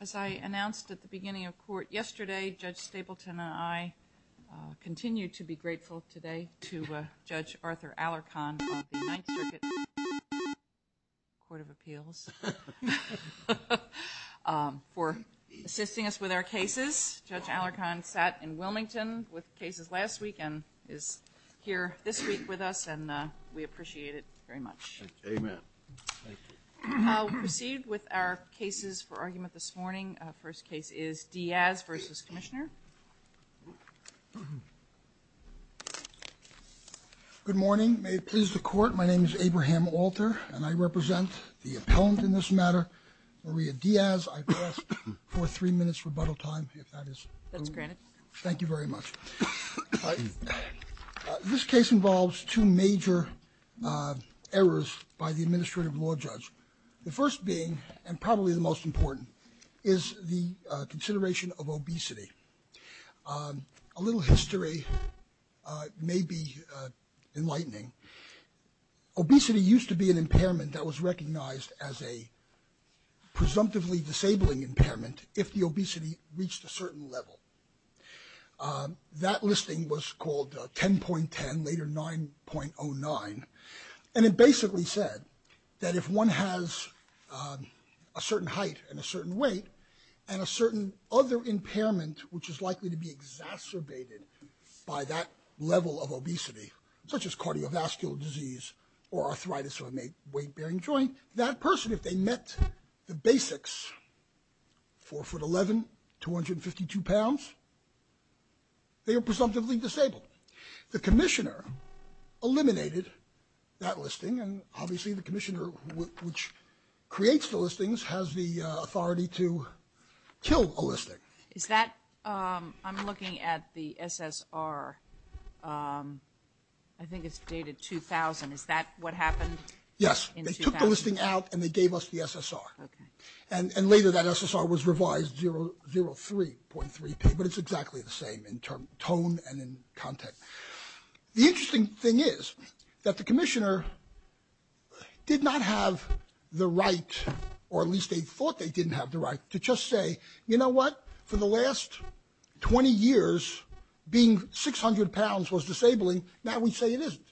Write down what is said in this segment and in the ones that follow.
As I announced at the beginning of court yesterday, Judge Stapleton and I continue to be grateful today to Judge Arthur Allercon of the Ninth Circuit Court of Appeals for assisting us with our cases. Judge Allercon sat in Wilmington with cases last week and is here this week with us and we appreciate it very much. We'll proceed with our cases for argument this morning. First case is Diaz v. Commissioner. Good morning. May it please the court, my name is Abraham Alter and I represent the appellant in this matter, Maria Diaz. I ask for three minutes rebuttal time if that is granted. Thank you very much. This case involves two major errors by the Administrative Law Judge. The first being and probably the most important is the consideration of obesity. A little history may be enlightening. Obesity used to be an impairment that was recognized as a presumptively disabling impairment if the obesity reached a certain level. That listing was called 10.10, later 9.09 and it basically said that if one has a certain height and a certain weight and a certain other impairment which is likely to be exacerbated by that level of obesity, such as cardiovascular disease or arthritis or a weight-bearing joint, that person, if they met the basics, 4'11", 252 pounds, they are presumptively disabled. The Commissioner eliminated that listing and obviously the Commissioner which creates the listings has the authority to kill a listing. Is that, I'm looking at the SSR, I think it's dated 2000, is that what happened? Yes, they took the listing out and they gave us the SSR. And later that SSR was revised 0.3, but it's exactly the same in tone and in content. The interesting thing is that the Commissioner did not have the right, or at least they thought they didn't have the right, but for the last 20 years being 600 pounds was disabling, now we say it isn't.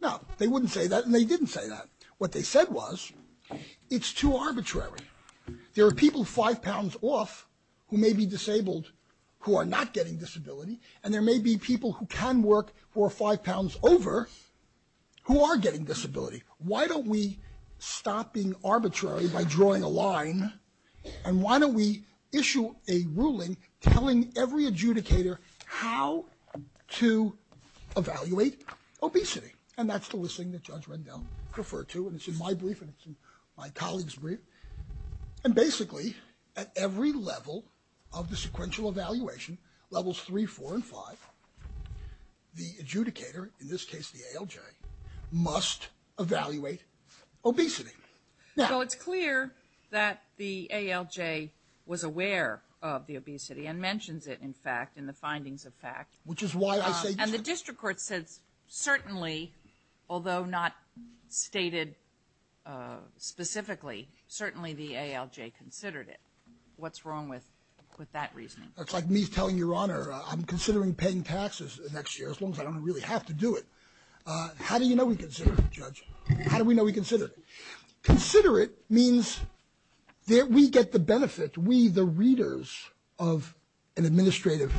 No, they wouldn't say that and they didn't say that. What they said was it's too arbitrary. There are people 5 pounds off who may be disabled who are not getting disability and there may be people who can work who are 5 pounds over who are getting disability. Why don't we stop being arbitrary by drawing a line and why don't we issue a ruling telling every adjudicator how to evaluate obesity? And that's the listing that Judge Rendell referred to and it's in my brief and it's in my colleague's brief. And basically at every level of the sequential evaluation, levels 3, 4, and 5, the adjudicator, in this case the ALJ, must evaluate obesity. Well it's clear that the ALJ was aware of the obesity and mentions it in fact in the findings of fact. Which is why I say. And the district court says certainly, although not stated specifically, certainly the ALJ considered it. What's wrong with that reasoning? It's like me telling your honor I'm considering paying taxes next year as long as I don't really have to do it. How do you know we considered it, Judge? How do we know we considered it? Consider it means that we get the benefit, we the readers of an administrative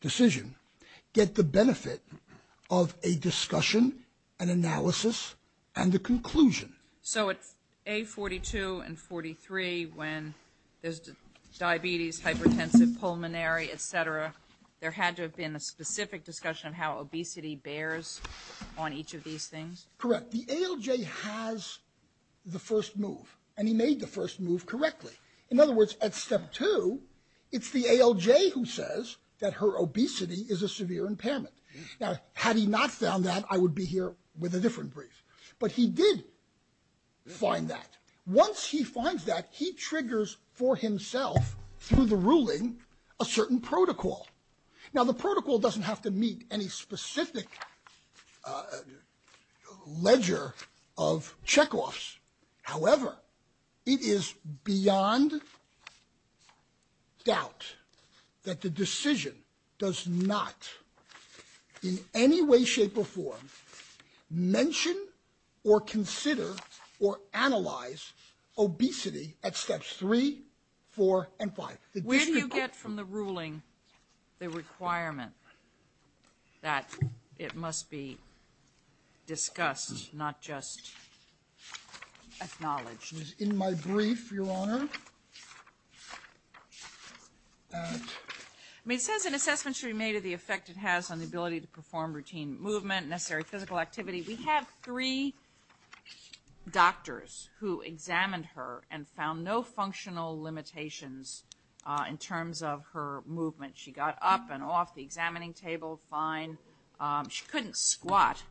decision, get the benefit of a discussion, an analysis, and a conclusion. So it's A42 and 43 when there's diabetes, hypertensive, pulmonary, etc. There had to have been a specific discussion of how obesity bears on each of these things? Correct. The ALJ has the first move and he made the first move correctly. In other words, at step two it's the ALJ who says that her obesity is a severe impairment. Now had he not found that I would be here with a different brief. But he did find that. Once he finds that he triggers for himself through the ruling a certain protocol. Now the protocol doesn't have to meet any specific ledger of checkoffs. However, it is beyond doubt that the decision does not in any way, shape, or form mention or consider or analyze obesity at steps three, four, and five. When you get from the ruling the requirement that it must be discussed, not just acknowledged. It was in my brief, Your Honor. I mean it says an assessment should be made of the effect it has on the ability to perform routine movement, necessary physical activity. We have three doctors who examined her and found no movement. She got up and off the examining table fine. She couldn't squat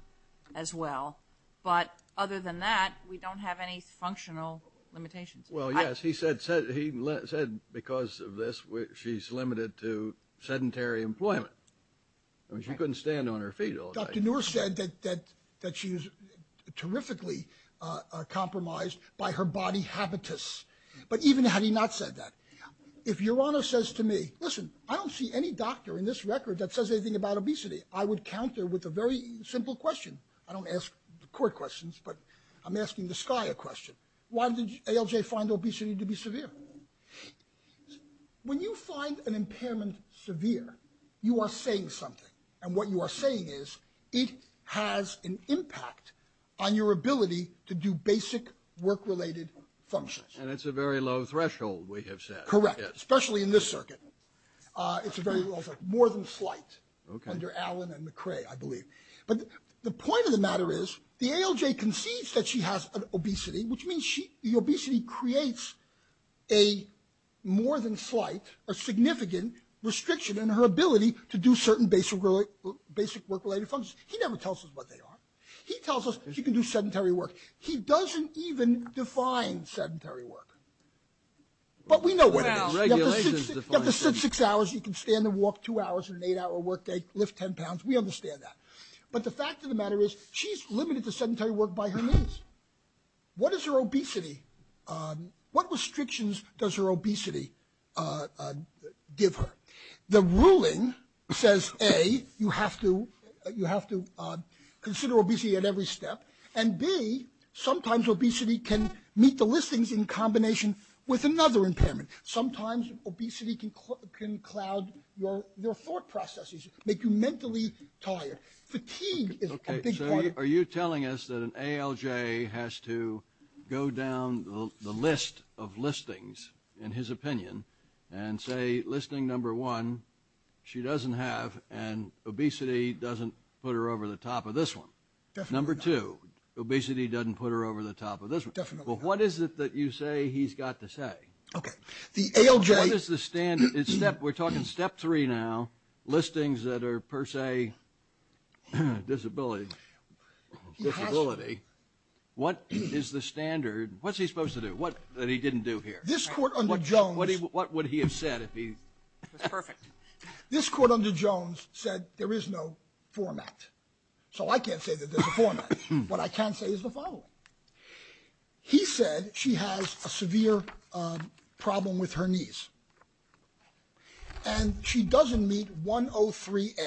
as well. But other than that we don't have any functional limitations. Well yes, he said because of this she's limited to sedentary employment. I mean she couldn't stand on her feet all day. Dr. Noor said that she was terrifically compromised by her body habitus. But even having not said that, if Your Honor says to me, listen, I don't see any doctor in this record that says anything about obesity. I would counter with a very simple question. I don't ask court questions, but I'm asking the SCIA question. Why did ALJ find obesity to be severe? When you find an impairment severe, you are saying something. And what you are saying is it has an impact on your ability to do basic work-related functions. And it's a very low threshold, we have said. Correct, especially in this circuit. It's a very low threshold, more than slight, under Allen and McCray, I believe. But the point of the matter is the ALJ concedes that she has obesity, which means the obesity creates a more than slight or significant restriction in her ability to do certain basic work-related functions. He never tells us what they are. He tells us she can do sedentary work. He doesn't even define sedentary work. But we know what it is. Regulations define sedentary work. You have to sit six hours, you can stand and walk two hours in an eight-hour workday, lift ten pounds. We understand that. But the fact of the matter is she's limited to sedentary work by her means. What is her obesity? What restrictions does her obesity give her? The ruling says A, you have to consider obesity at every step, and B, sometimes obesity can meet the listings in combination with another impairment. Sometimes obesity can cloud your thought processes, make you mentally tired. Fatigue is a big part of it. Are you telling us that an ALJ has to go down the list of listings, in his opinion, and say, listing number one, she doesn't have, and obesity doesn't put her over the top of this one. Number two, obesity doesn't put her over the top of this one. Well, what is it that you say he's got to say? We're talking step three now, listings that are per se disability. What is the standard? What's he supposed to do? What did he didn't do here? What would he have said? This court under Jones said there is no format. So I can't say that there's a format. What I can say is the following. He said she has a severe problem with her knees, and she doesn't meet 103A.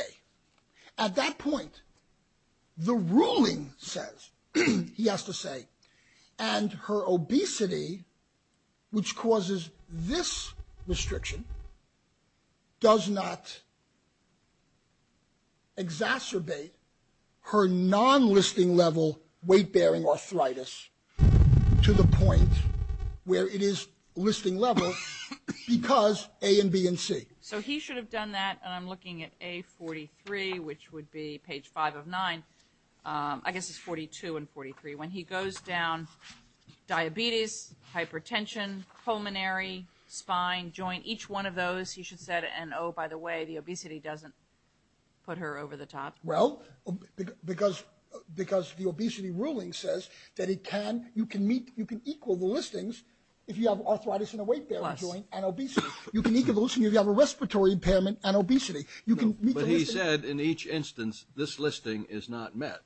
At that point, the ruling says, he has to say, and her obesity, which causes this restriction, does not exacerbate her non-listing level weight-bearing arthritis to the point where it is listing level because A and B and C. So he should have done that, and I'm looking at A43, which would be page five of nine. I guess it's 42 and 43. When he goes down diabetes, hypertension, pulmonary, spine, joint, each one of those, he should say, and oh, by the way, the obesity doesn't put her over the top. Well, because the obesity ruling says that you can equal the listings if you have arthritis in a weight-bearing joint and obesity. You can equal the listings if you have a respiratory impairment and obesity. You can meet the listings. He said in each instance, this listing is not met,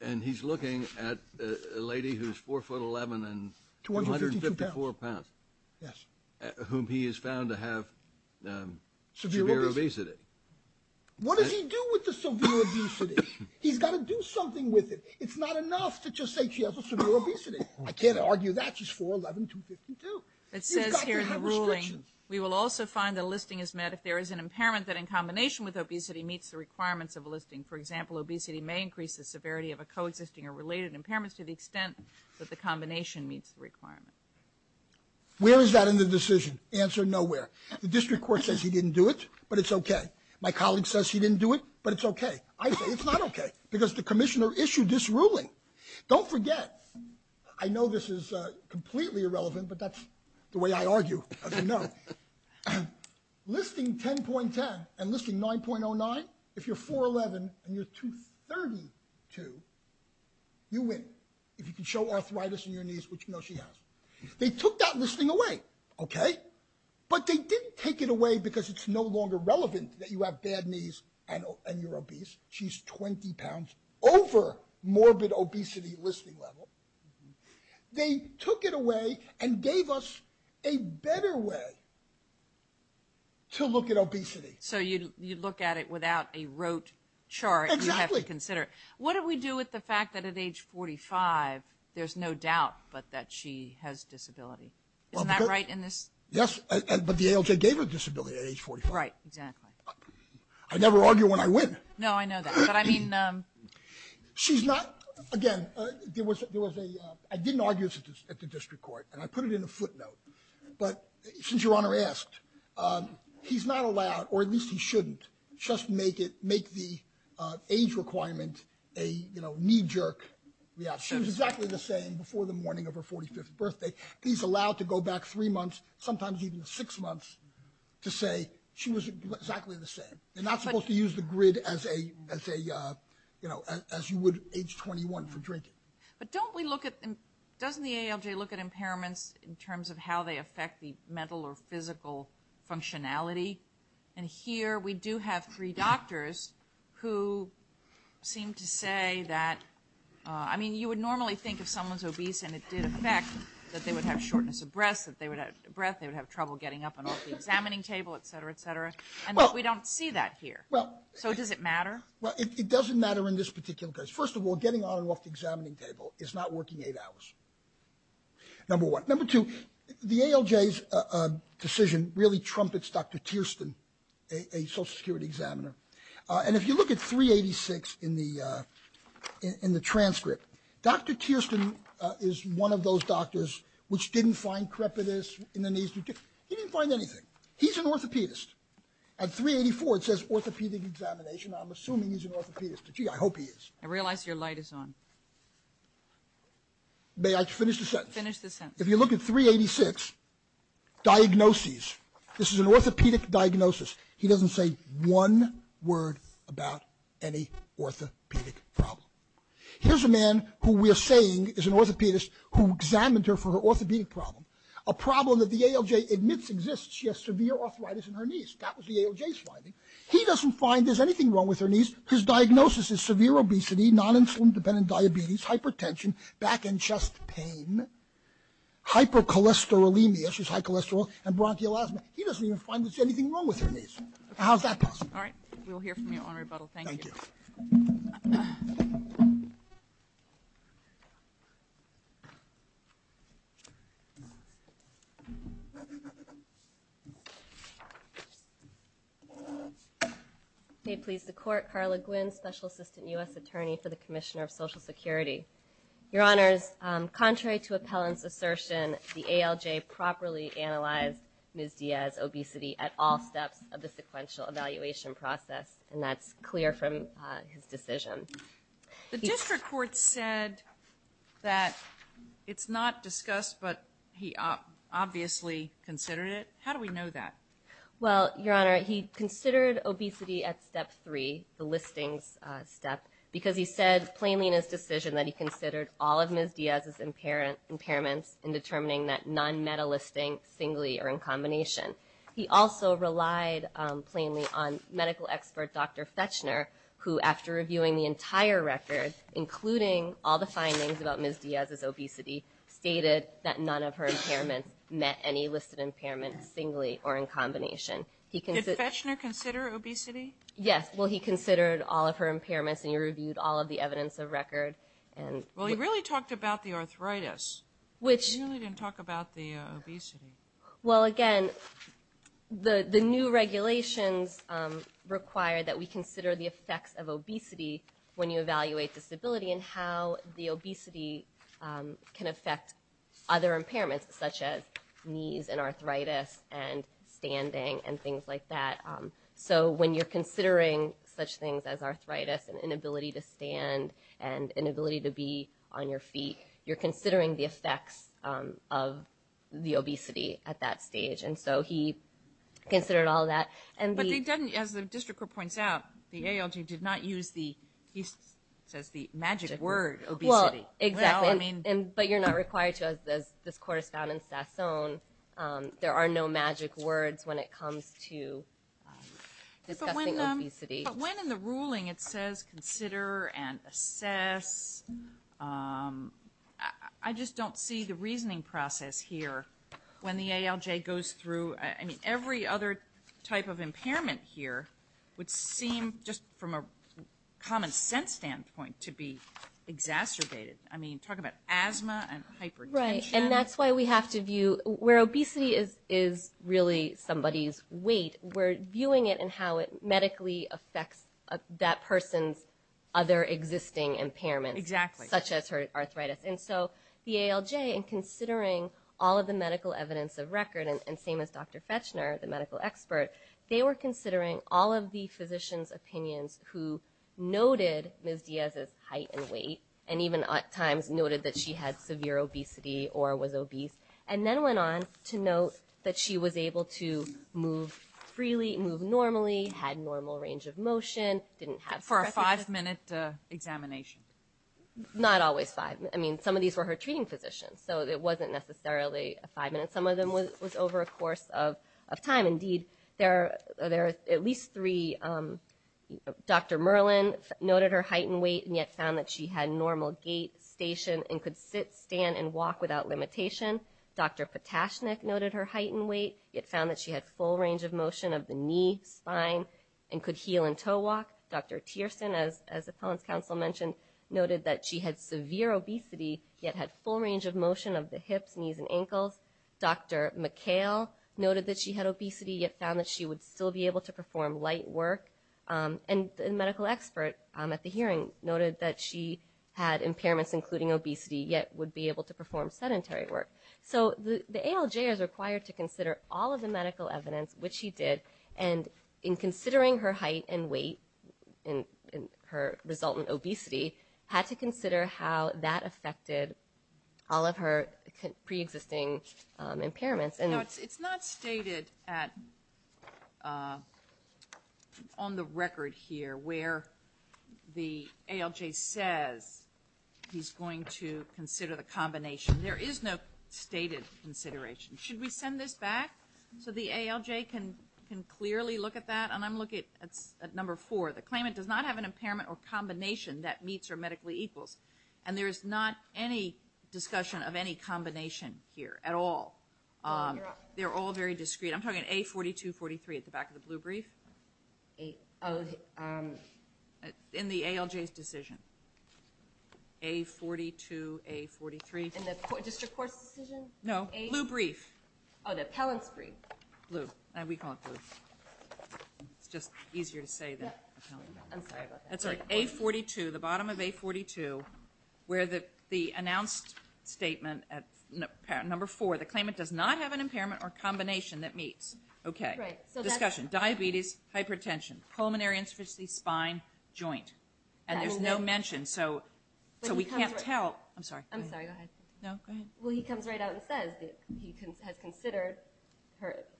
and he's looking at a lady who's 4'11 and 254 pounds, whom he has found to have severe obesity. What does he do with the severe obesity? He's got to do something with it. It's not enough to just say she has a severe obesity. I can't argue that. She's 4'11, 252. It says here in the ruling, we will also find the listing is met if there is an impairment that in combination with obesity meets the requirements of a listing. For example, obesity may increase the severity of a coexisting or related impairment to the extent that the combination meets the requirement. Where is that in the decision? Answer, nowhere. The district court says he didn't do it, but it's okay. My colleague says he didn't do it, but it's okay. I say it's not okay because the commissioner issued this ruling. Don't forget, I know this is completely irrelevant, but that's the way I argue, as you know. Listing 10.10 and listing 9.09, if you're 4'11 and you're 232, you win. If you can show arthritis in your knees, which you know she has. They took that listing away, okay? But they didn't take it away because it's no longer relevant that you have bad knees and you're obese. She's 20 pounds over morbid obesity listing level. They took it away and gave us a better way to look at obesity. So you'd look at it without a rote chart you have to consider. What do we do with the fact that at age 45 there's no doubt that she has disability? Isn't that right in this? Yes, but the ALJ gave her disability at age 45. Right, exactly. I never argue when I win. No, I know that, but I mean... She's not, again, there was a, I didn't argue this at the district court, and I put it in a footnote, but since your honor asked, he's not allowed, or at least he shouldn't, just make it, make the age requirement a, you know, knee-jerk reaction. She was exactly the same before the morning of her 45th birthday. He's allowed to go back three months, sometimes even six months, to say she was exactly the you know, as you would age 21 for drinking. But don't we look at, doesn't the ALJ look at impairments in terms of how they affect the mental or physical functionality? And here we do have three doctors who seem to say that, I mean, you would normally think if someone's obese and it did affect that they would have shortness of breath, that they would have trouble getting up and off the examining table, et cetera, et cetera, and we don't see that here. Well... So does it matter? Well, it doesn't matter in this particular case. First of all, getting on and off the examining table is not working eight hours, number one. Number two, the ALJ's decision really trumpets Dr. Tierston, a social security examiner, and if you look at 386 in the transcript, Dr. Tierston is one of those doctors which didn't find crepitus in the knees, he didn't find anything. He's an orthopedist. At 384 it says orthopedic examination. I'm assuming he's an orthopedist, but gee, I hope he is. I realize your light is on. May I finish the sentence? Finish the sentence. If you look at 386, diagnoses, this is an orthopedic diagnosis. He doesn't say one word about any orthopedic problem. Here's a man who we are saying is an orthopedist who examined her for her orthopedic problem, a problem that the ALJ admits exists. She has severe arthritis in her knees. That was the ALJ's finding. He doesn't find there's anything wrong with her knees. His diagnosis is severe obesity, non-insulin dependent diabetes, hypertension, back and chest pain, hypercholesterolemia, she's high cholesterol, and bronchial asthma. He doesn't even find there's anything wrong with her knees. How's that possible? All right. We will hear from you on rebuttal. Thank you. May it please the court. Carla Guinn, Special Assistant U.S. Attorney for the Commissioner of Social Security. Your Honors, contrary to appellant's assertion, the ALJ properly analyzed Ms. Diaz's obesity at all steps of the sequential evaluation process, and that's clear from his decision. The district court said that it's not discussed, but he obviously considered it. How do we know that? Well, Your Honor, he considered obesity at step three, the listings step, because he said plainly in his decision that he considered all of Ms. Diaz's impairments in determining that non-meta listing singly or in combination. He also relied plainly on medical expert Dr. Fetchner, who, after reviewing the entire record, including all the findings about Ms. Diaz's obesity, stated that none of her impairments met any listed impairment singly or in combination. Did Fetchner consider obesity? Yes. Well, he considered all of her impairments, and he reviewed all of the evidence of record. Well, he really talked about the arthritis. He really didn't talk about the obesity. Well, again, the new regulations require that we consider the effects of obesity when you evaluate disability and how the obesity can affect other impairments, such as knees and arthritis and standing and things like that. So when you're considering such things as arthritis and inability to stand and inability to be on your feet, you're considering the effects of the obesity at that stage. And so he considered all of that. But he doesn't, as the district court points out, the ALG did not use the, he says the magic word, obesity. Well, exactly, but you're not required to, as this court has found in Sassone, there are no magic words when it comes to discussing obesity. But when in the ruling it says consider and assess, I just don't see the reasoning process here when the ALJ goes through, I mean, every other type of impairment here would seem, just from a common sense standpoint, to be exacerbated. I mean, talk about asthma and hypertension. Right, and that's why we have to view, where obesity is really somebody's weight, we're medically affects that person's other existing impairments. Exactly. Such as her arthritis. And so the ALJ, in considering all of the medical evidence of record, and same as Dr. Fechner, the medical expert, they were considering all of the physician's opinions who noted Ms. Diaz's height and weight, and even at times noted that she had severe obesity or was obese, and then went on to note that she was able to move freely, move normally, had normal range of motion, didn't have – For a five-minute examination. Not always five. I mean, some of these were her treating physicians, so it wasn't necessarily a five-minute. Some of them was over a course of time. Indeed, there are at least three – Dr. Merlin noted her height and weight, and yet found that she had normal gait, station, and could sit, stand, and walk without limitation. Dr. Potashnik noted her height and weight, yet found that she had full range of motion of the knee, spine, and could heel and toe walk. Dr. Tierson, as Appellant's counsel mentioned, noted that she had severe obesity, yet had full range of motion of the hips, knees, and ankles. Dr. McHale noted that she had obesity, yet found that she would still be able to perform light work. And the medical expert at the hearing noted that she had impairments, including obesity, yet would be able to perform sedentary work. So the ALJ is required to consider all of the medical evidence, which she did, and in considering her height and weight and her resultant obesity, had to consider how that affected all of her preexisting impairments. And – Now, it's not stated at – on the record here where the ALJ says he's going to consider the combination. There is no stated consideration. Should we send this back so the ALJ can clearly look at that? And I'm looking at number four. The claimant does not have an impairment or combination that meets or medically equals. And there is not any discussion of any combination here at all. They're all very discrete. I'm talking A42, 43 at the back of the blue brief. In the ALJ's decision. A42, A43. In the district court's decision? No. Blue brief. Oh, the appellant's brief. Blue. We call it blue. It's just easier to say than appellant. I'm sorry about that. That's all right. A42, the bottom of A42, where the announced statement at number four, the claimant does not have an impairment or combination that meets. Okay. Discussion. Diabetes, hypertension, pulmonary insufficiency, spine, joint. And there's no mention. So we can't tell – I'm sorry. I'm sorry. No, go ahead. Well, he comes right out and says that he has considered –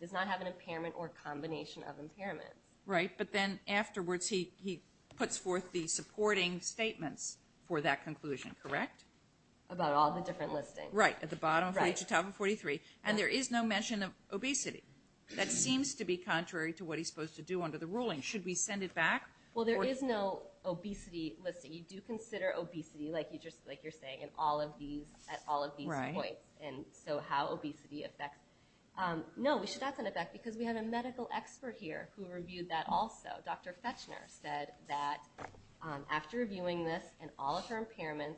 does not have an impairment or combination of impairment. Right. But then afterwards he puts forth the supporting statements for that conclusion, correct? About all the different listings. Right. At the bottom of 43 to the top of 43. And there is no mention of obesity. That seems to be contrary to what he's supposed to do under the ruling. Should we send it back? Well, there is no obesity listing. You do consider obesity, like you're saying, at all of these points. And so how obesity affects – no, we should not send it back because we have a medical expert here who reviewed that also. Dr. Fechner said that after reviewing this and all of her impairments,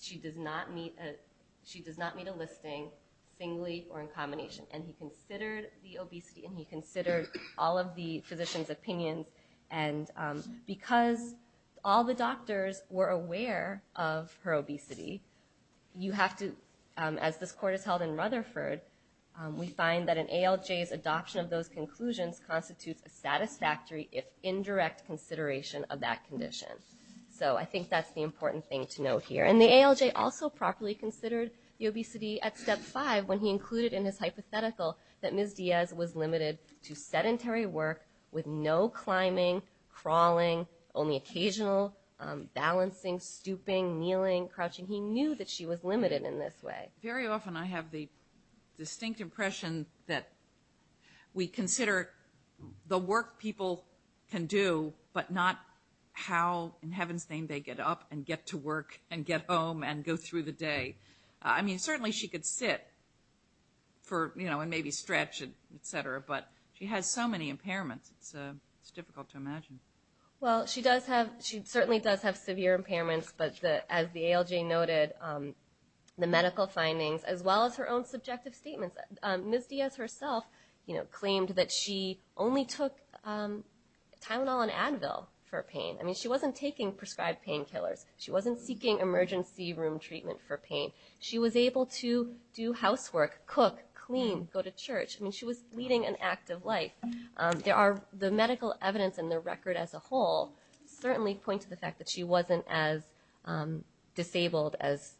she does not meet a listing singly or in combination. And he considered the obesity and he considered all of the physicians' opinions. And because all the doctors were aware of her obesity, you have to – as this court has held in Rutherford, we find that an ALJ's adoption of those conclusions constitutes a satisfactory, if indirect, consideration of that condition. So I think that's the important thing to note here. And the ALJ also properly considered the obesity at step five when he included in his hypothetical that Ms. Diaz was limited to sedentary work with no climbing, crawling, only occasional balancing, stooping, kneeling, crouching. He knew that she was limited in this way. MS. FECHNER Very often I have the distinct impression that we consider the work people can do, but not how in heaven's name they get up and get to work and get home and go through the day. I mean, certainly she could sit for, you know, and maybe stretch, et cetera, but she has so many impairments, it's difficult to imagine. MS. RAHMAN Well, she does have – she certainly does have severe impairments, but as the ALJ noted, the medical findings, as well as her own subjective statements – Ms. Diaz herself, you know, claimed that she only took Tylenol and Advil for pain. I mean, she wasn't taking prescribed painkillers. She wasn't seeking emergency room treatment for pain. She was able to do housework, cook, clean, go to church. I mean, she was leading an active life. There are – the medical evidence and the record as a whole certainly point to the fact that she wasn't as disabled as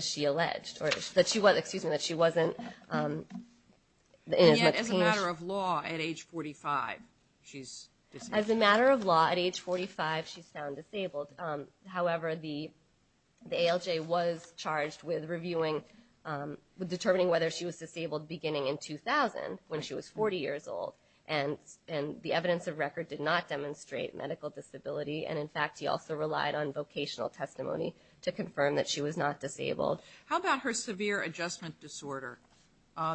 she alleged, or that she wasn't – excuse me, that she wasn't in as much pain as – MS. RAHMAN And yet, as a matter of law, at age 45, she's disabled. MS. RAHMAN As a matter of law, at age 45, she's found However, the ALJ was charged with reviewing – determining whether she was disabled beginning in 2000, when she was 40 years old, and the evidence of record did not demonstrate medical disability. And in fact, he also relied on vocational testimony to confirm that she was not disabled. MS. RAHMAN How about her severe adjustment disorder?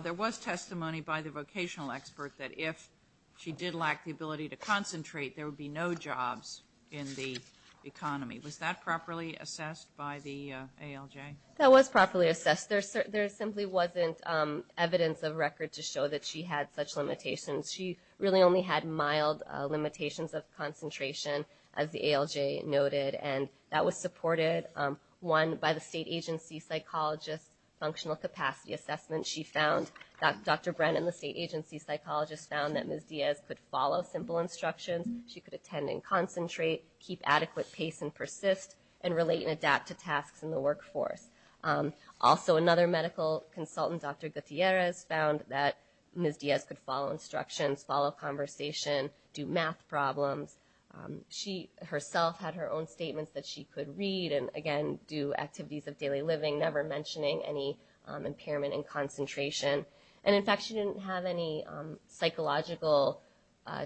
There was testimony by the vocational expert that if she did lack the ability to concentrate, there would be no jobs in the economy. Was that properly assessed by the ALJ? MS. RAHMAN That was properly assessed. There simply wasn't evidence of record to show that she had such limitations. She really only had mild limitations of concentration, as the ALJ noted, and that was supported, one, by the state agency psychologist's functional capacity assessment. She found – Dr. Brennan, the state agency psychologist, found that Ms. Diaz could follow simple instructions, she could attend and concentrate, keep adequate pace and persist, and relate and adapt to tasks in the workforce. Also, another medical consultant, Dr. Gutierrez, found that Ms. Diaz could follow instructions, follow conversation, do math problems. She herself had her own statements that she could read and, again, do activities of daily living, never mentioning any impairment in concentration. And, in fact, she didn't have any psychological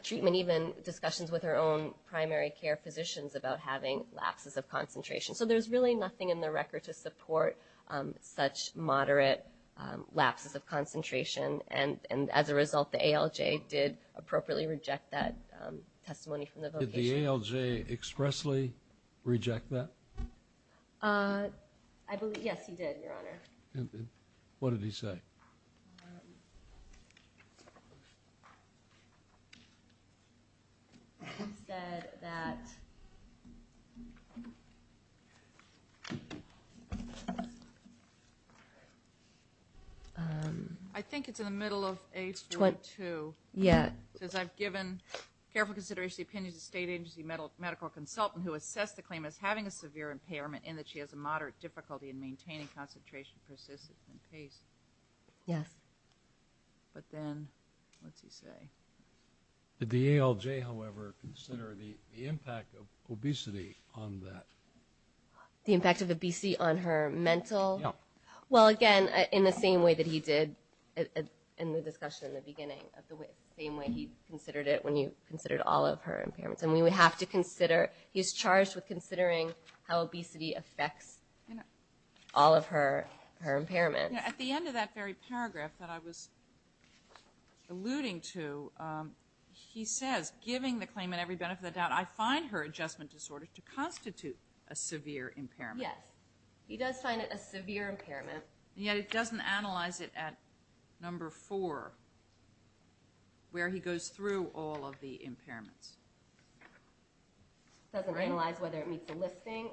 treatment, even discussions with her own primary care physicians about having lapses of concentration. So there's really nothing in the record to support such moderate lapses of concentration, and as a result, the ALJ did appropriately reject that testimony from the vocation. QUESTION Did the ALJ expressly reject that? MS. RAHMAN I believe – yes, he did, Your Honor. QUESTION And what did he say? MS. RAHMAN He said that – MS. RAHMAN I think it's in the middle of page 22. RAHMAN Yeah. MS. RAHMAN It says, I've given careful consideration to the opinions of state agency medical consultant who assessed the claim as having a severe impairment and that she has a moderate difficulty in maintaining concentration, persistence and pace. MS. RAHMAN Yes. MS. RAHMAN But then, what's he say? QUESTION Did the ALJ, however, consider the impact of obesity on that? MS. RAHMAN The impact of obesity on her mental? QUESTION Yeah. MS. RAHMAN Well, again, in the same way that he did in the discussion in the beginning, the same way he considered it when you considered all of her impairments. And we would have to consider – he's charged with considering how obesity affects all of her impairments. MS. RAHMAN At the end of that very paragraph that I was alluding to, he says, giving the claim and every benefit of the doubt, I find her adjustment disorder to constitute a severe impairment. MS. RAHMAN Yes. He does find it a severe impairment. MS. RAHMAN Yet it doesn't analyze it at number four, where he goes through all of the impairments. RAHMAN Doesn't analyze whether it meets the listing?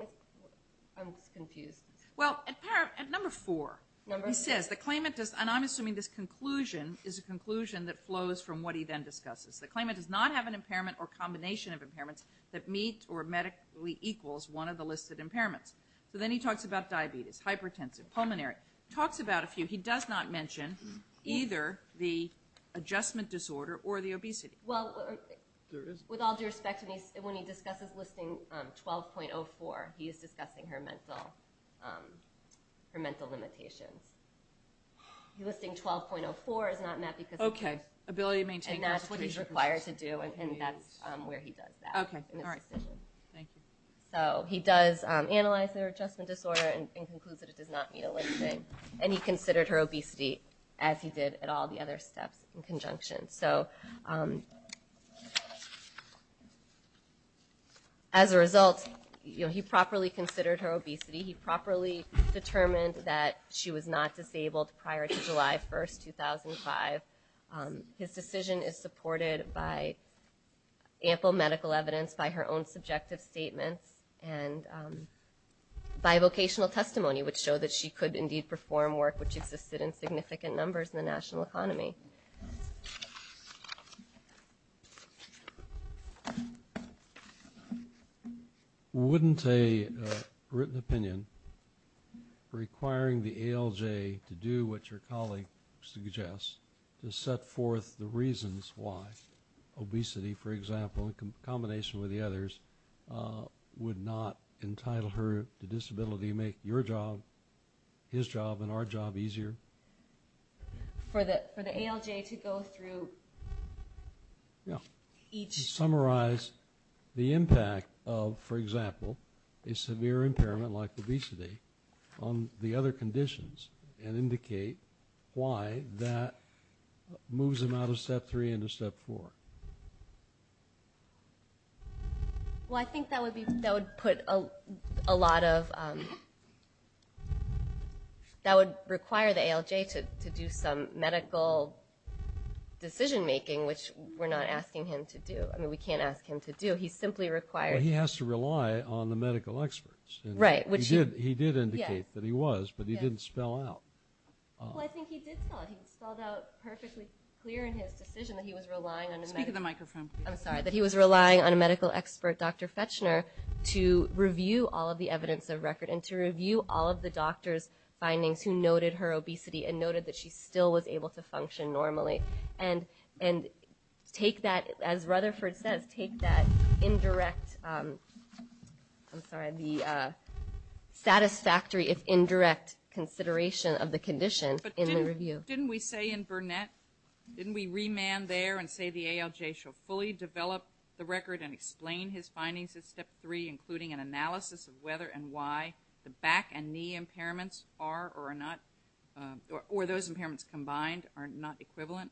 I'm just confused. MS. RAHMAN Well, at number four. MS. RAHMAN He says the claimant does – and I'm assuming this conclusion is a conclusion that flows from what he then discusses. The claimant does not have an impairment or combination of impairments that meet or medically equals one of the listed impairments. So then he talks about diabetes, hypertensive, pulmonary. Talks about a few. He does not mention either the adjustment disorder or the obesity. MS. RAHMAN Well, with all due respect, when he discusses listing 12.04, he is discussing her mental limitations. Listing 12.04 is not met because – MS. RAHMAN Okay. Ability to maintain – MS. RAHMAN And that's what he's required to do and that's where he does that. RAHMAN Okay. All right. Thank you. MS. RAHMAN So he does analyze their adjustment disorder and concludes that it does not meet a listing. And he considered her obesity as he did at all the other steps in conjunction. So as a result, he properly considered her obesity. He properly determined that she was not disabled prior to July 1, 2005. His decision is supported by ample medical evidence by her own subjective statements and by vocational testimony which show that she could indeed perform work which existed in significant numbers in the national economy. MS. RAHMAN Wouldn't a written opinion requiring the ALJ to do what your colleague suggests to set forth the reasons why obesity, for example, in combination with the others, would not entitle her to disability and make your job, his job, and our job easier? MS. RAHMAN For the ALJ to go through each? MR. RAHMAN Yeah. To summarize the impact of, for example, a severe impairment like obesity on the other conditions and indicate why that moves him out of Step 3 into Step 4. MS. MS. RAHMAN So the ALJ to do some medical decision making, which we're not asking him to do. I mean, we can't ask him to do. He's simply required. MR. RAHMAN But he has to rely on the medical experts. MS. RAHMAN Right. RAHMAN He did indicate that he was. RAHMAN Yeah. MR. RAHMAN But he didn't spell out. MS. RAHMAN Well, I think he did spell it. He spelled out perfectly clear in his decision that he was relying on the medical. MS. RAHMAN Speak into the microphone, please. MS. RAHMAN I'm sorry. That he was relying on a medical expert, Dr. Fetchner, to review all of the evidence of MS. RAHMAN And to review all of the doctor's findings who noted her obesity and noted that she still was able to function normally. And take that, as Rutherford says, take that indirect, I'm sorry, the satisfactory, if indirect, consideration of the condition in the review. MS. RAHMAN But didn't we say in Burnett, didn't we remand there and say the ALJ shall fully develop the record and explain his findings in Step 3, including an analysis of whether and why the ALJ should be removed? MS. RAHMAN Okay. MS. RAHMAN Okay. MS. RAHMAN Okay. MS. RAHMAN Okay. MS. RAHMAN Okay. MS. PEREZ-FOX And you said they should employers natuurlijk umpire or those impairments combined are not equivalent.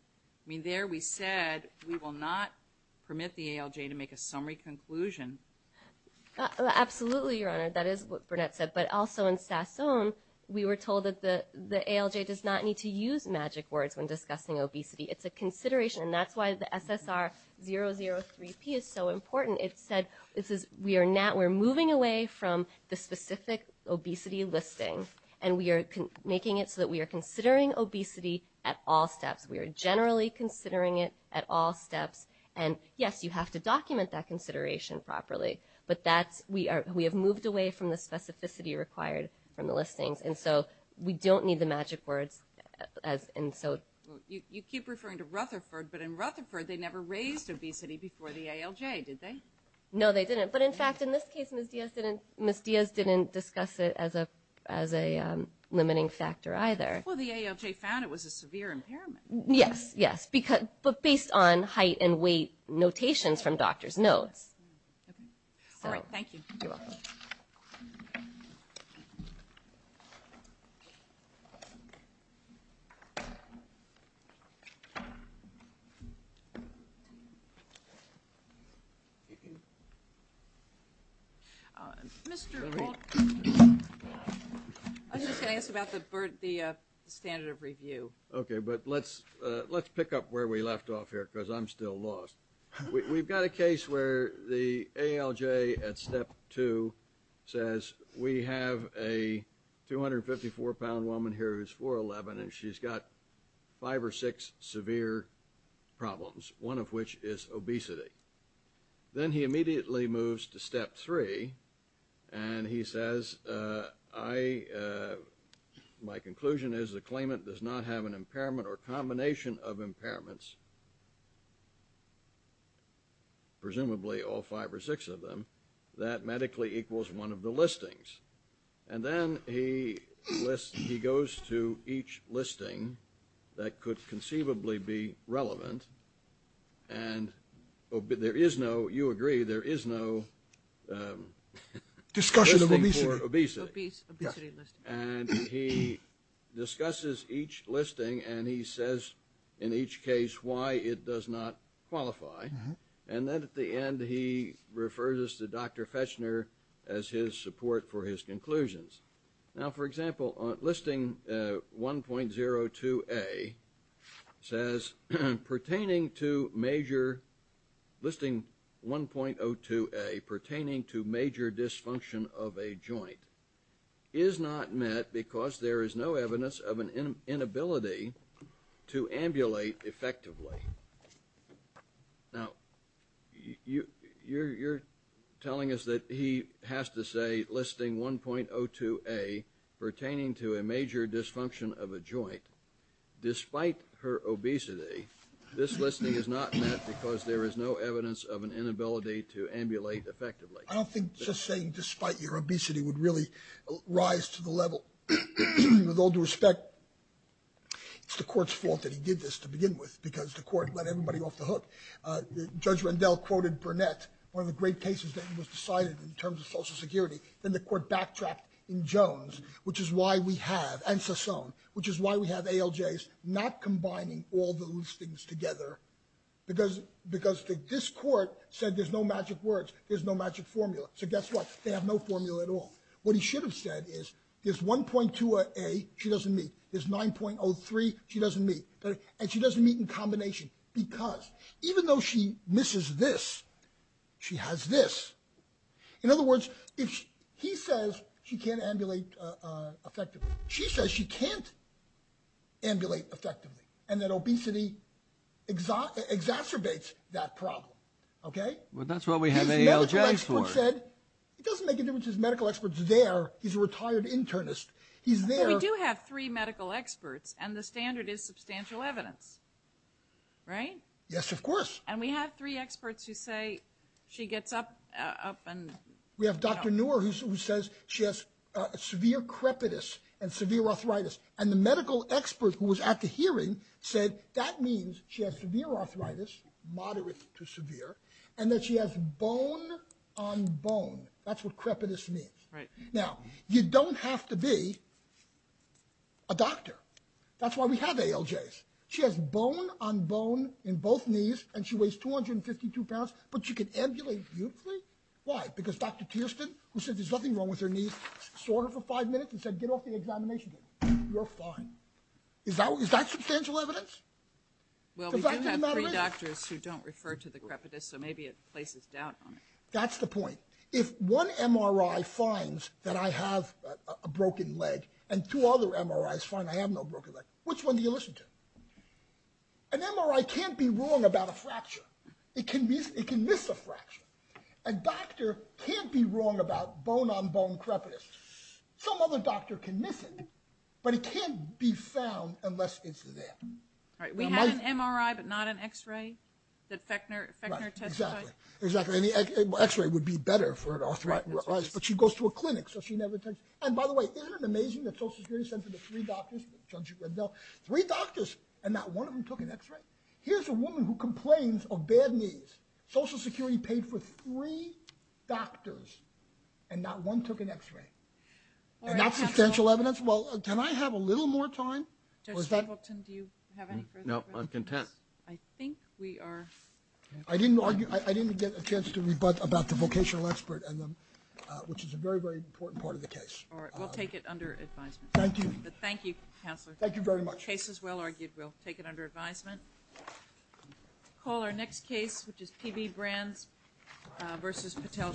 There we said we will not permit the ALJ to make a summary conclusion. MS. HOPKINS Absolutely, Your Honor. That is what Burnett said. But also in Sassone we were told that the ALJ does not need to use magic words when discussing obesity. It's a consideration and that's why the SSR 003P is so important. And it said we are moving away from the specific obesity listing and we are making it so that we are considering obesity at all steps. We are generally considering it at all steps. And yes, you have to document that consideration properly. But we have moved away from the specificity required from the listings. And so we don't need the magic words. PEREZ-FOX You keep referring to Rutherford, but in Rutherford they never raised obesity before the ALJ, did they? HOPKINS No, they didn't. But in fact in this case Ms. Diaz didn't discuss it as a limiting factor either. PEREZ-FOX Well, the ALJ found it was a severe impairment. MS. HOPKINS Yes. But based on height and weight notations from doctors, no. PEREZ-FOX Okay. All right. Thank you. MS. HOPKINS You're welcome. PEREZ-FOX I was just going to ask about the standard of review. HOPKINS Okay. But let's pick up where we left off here because I'm still lost. We've got a case where the ALJ at step two says we have a 254-pound woman here who's 4'11 and she's got five or six severe problems, one of which is obesity. Then he immediately moves to step three and he says, my conclusion is the claimant does not have an impairment or combination of impairments, presumably all five or six of them, that medically equals one of the listings. And then he lists – he goes to each listing that could conceivably be relevant and there is no – you agree, there is no listing for obesity. PEREZ-FOX Discussion of obesity. MS. HOPKINS Obesity listing. And he discusses each listing and he says in each case why it does not qualify. And then at the end he refers us to Dr. Fechner as his support for his conclusions. Now, for example, listing 1.02A says, pertaining to major – listing 1.02A, pertaining to not met because there is no evidence of an inability to ambulate effectively. Now, you're telling us that he has to say listing 1.02A, pertaining to a major dysfunction of a joint, despite her obesity, this listing is not met because there is no evidence of an inability to ambulate effectively. PEREZ-FOX I don't think just saying despite your obesity would really rise to the level. With all due respect, it's the Court's fault that he did this to begin with because the Court let everybody off the hook. Judge Rendell quoted Burnett, one of the great cases that was decided in terms of Social Security. Then the Court backtracked in Jones, which is why we have – and Sasone, which is why we have ALJs not combining all the listings together because the – this Court said there is no magic formula. So guess what? They have no formula at all. What he should have said is there's 1.02A she doesn't meet, there's 9.03 she doesn't meet, and she doesn't meet in combination because even though she misses this, she has this. In other words, if he says she can't ambulate effectively, she says she can't ambulate effectively and that obesity exacerbates that problem, okay? Well, that's what we have ALJs for. His medical expert said – it doesn't make a difference if his medical expert's there. He's a retired internist. He's there. But we do have three medical experts and the standard is substantial evidence, right? Yes, of course. And we have three experts who say she gets up and – We have Dr. Noor who says she has severe crepitus and severe arthritis. And the medical expert who was at the hearing said that means she has severe arthritis, moderate to severe, and that she has bone on bone. That's what crepitus means. Right. Now, you don't have to be a doctor. That's why we have ALJs. She has bone on bone in both knees and she weighs 252 pounds, but she can ambulate beautifully. Why? Because Dr. Tiersten, who said there's nothing wrong with her knees, saw her for five minutes and said, get off the examination table. You're fine. Is that substantial evidence? Well, we do have three doctors. We do have three doctors who don't refer to the crepitus, so maybe it places doubt on it. That's the point. If one MRI finds that I have a broken leg and two other MRIs find I have no broken leg, which one do you listen to? An MRI can't be wrong about a fracture. It can miss a fracture. A doctor can't be wrong about bone on bone crepitus. Some other doctor can miss it, but it can't be found unless it's there. We have an MRI, but not an X-ray that Fechner testifies. Exactly. An X-ray would be better for an arthritis, but she goes to a clinic, so she never takes it. And by the way, isn't it amazing that Social Security sent to the three doctors, the judge at Reddell, three doctors and not one of them took an X-ray? Here's a woman who complains of bad knees. Social Security paid for three doctors and not one took an X-ray. Is that substantial evidence? Can I have a little more time? Judge Hamilton, do you have any further questions? No, I'm content. I think we are... I didn't get a chance to rebut about the vocational expert, which is a very, very important part of the case. All right, we'll take it under advisement. Thank you. Thank you, Counselor. Thank you very much. The case is well argued. We'll take it under advisement. We'll call our next case, which is PB Brands v. Patel.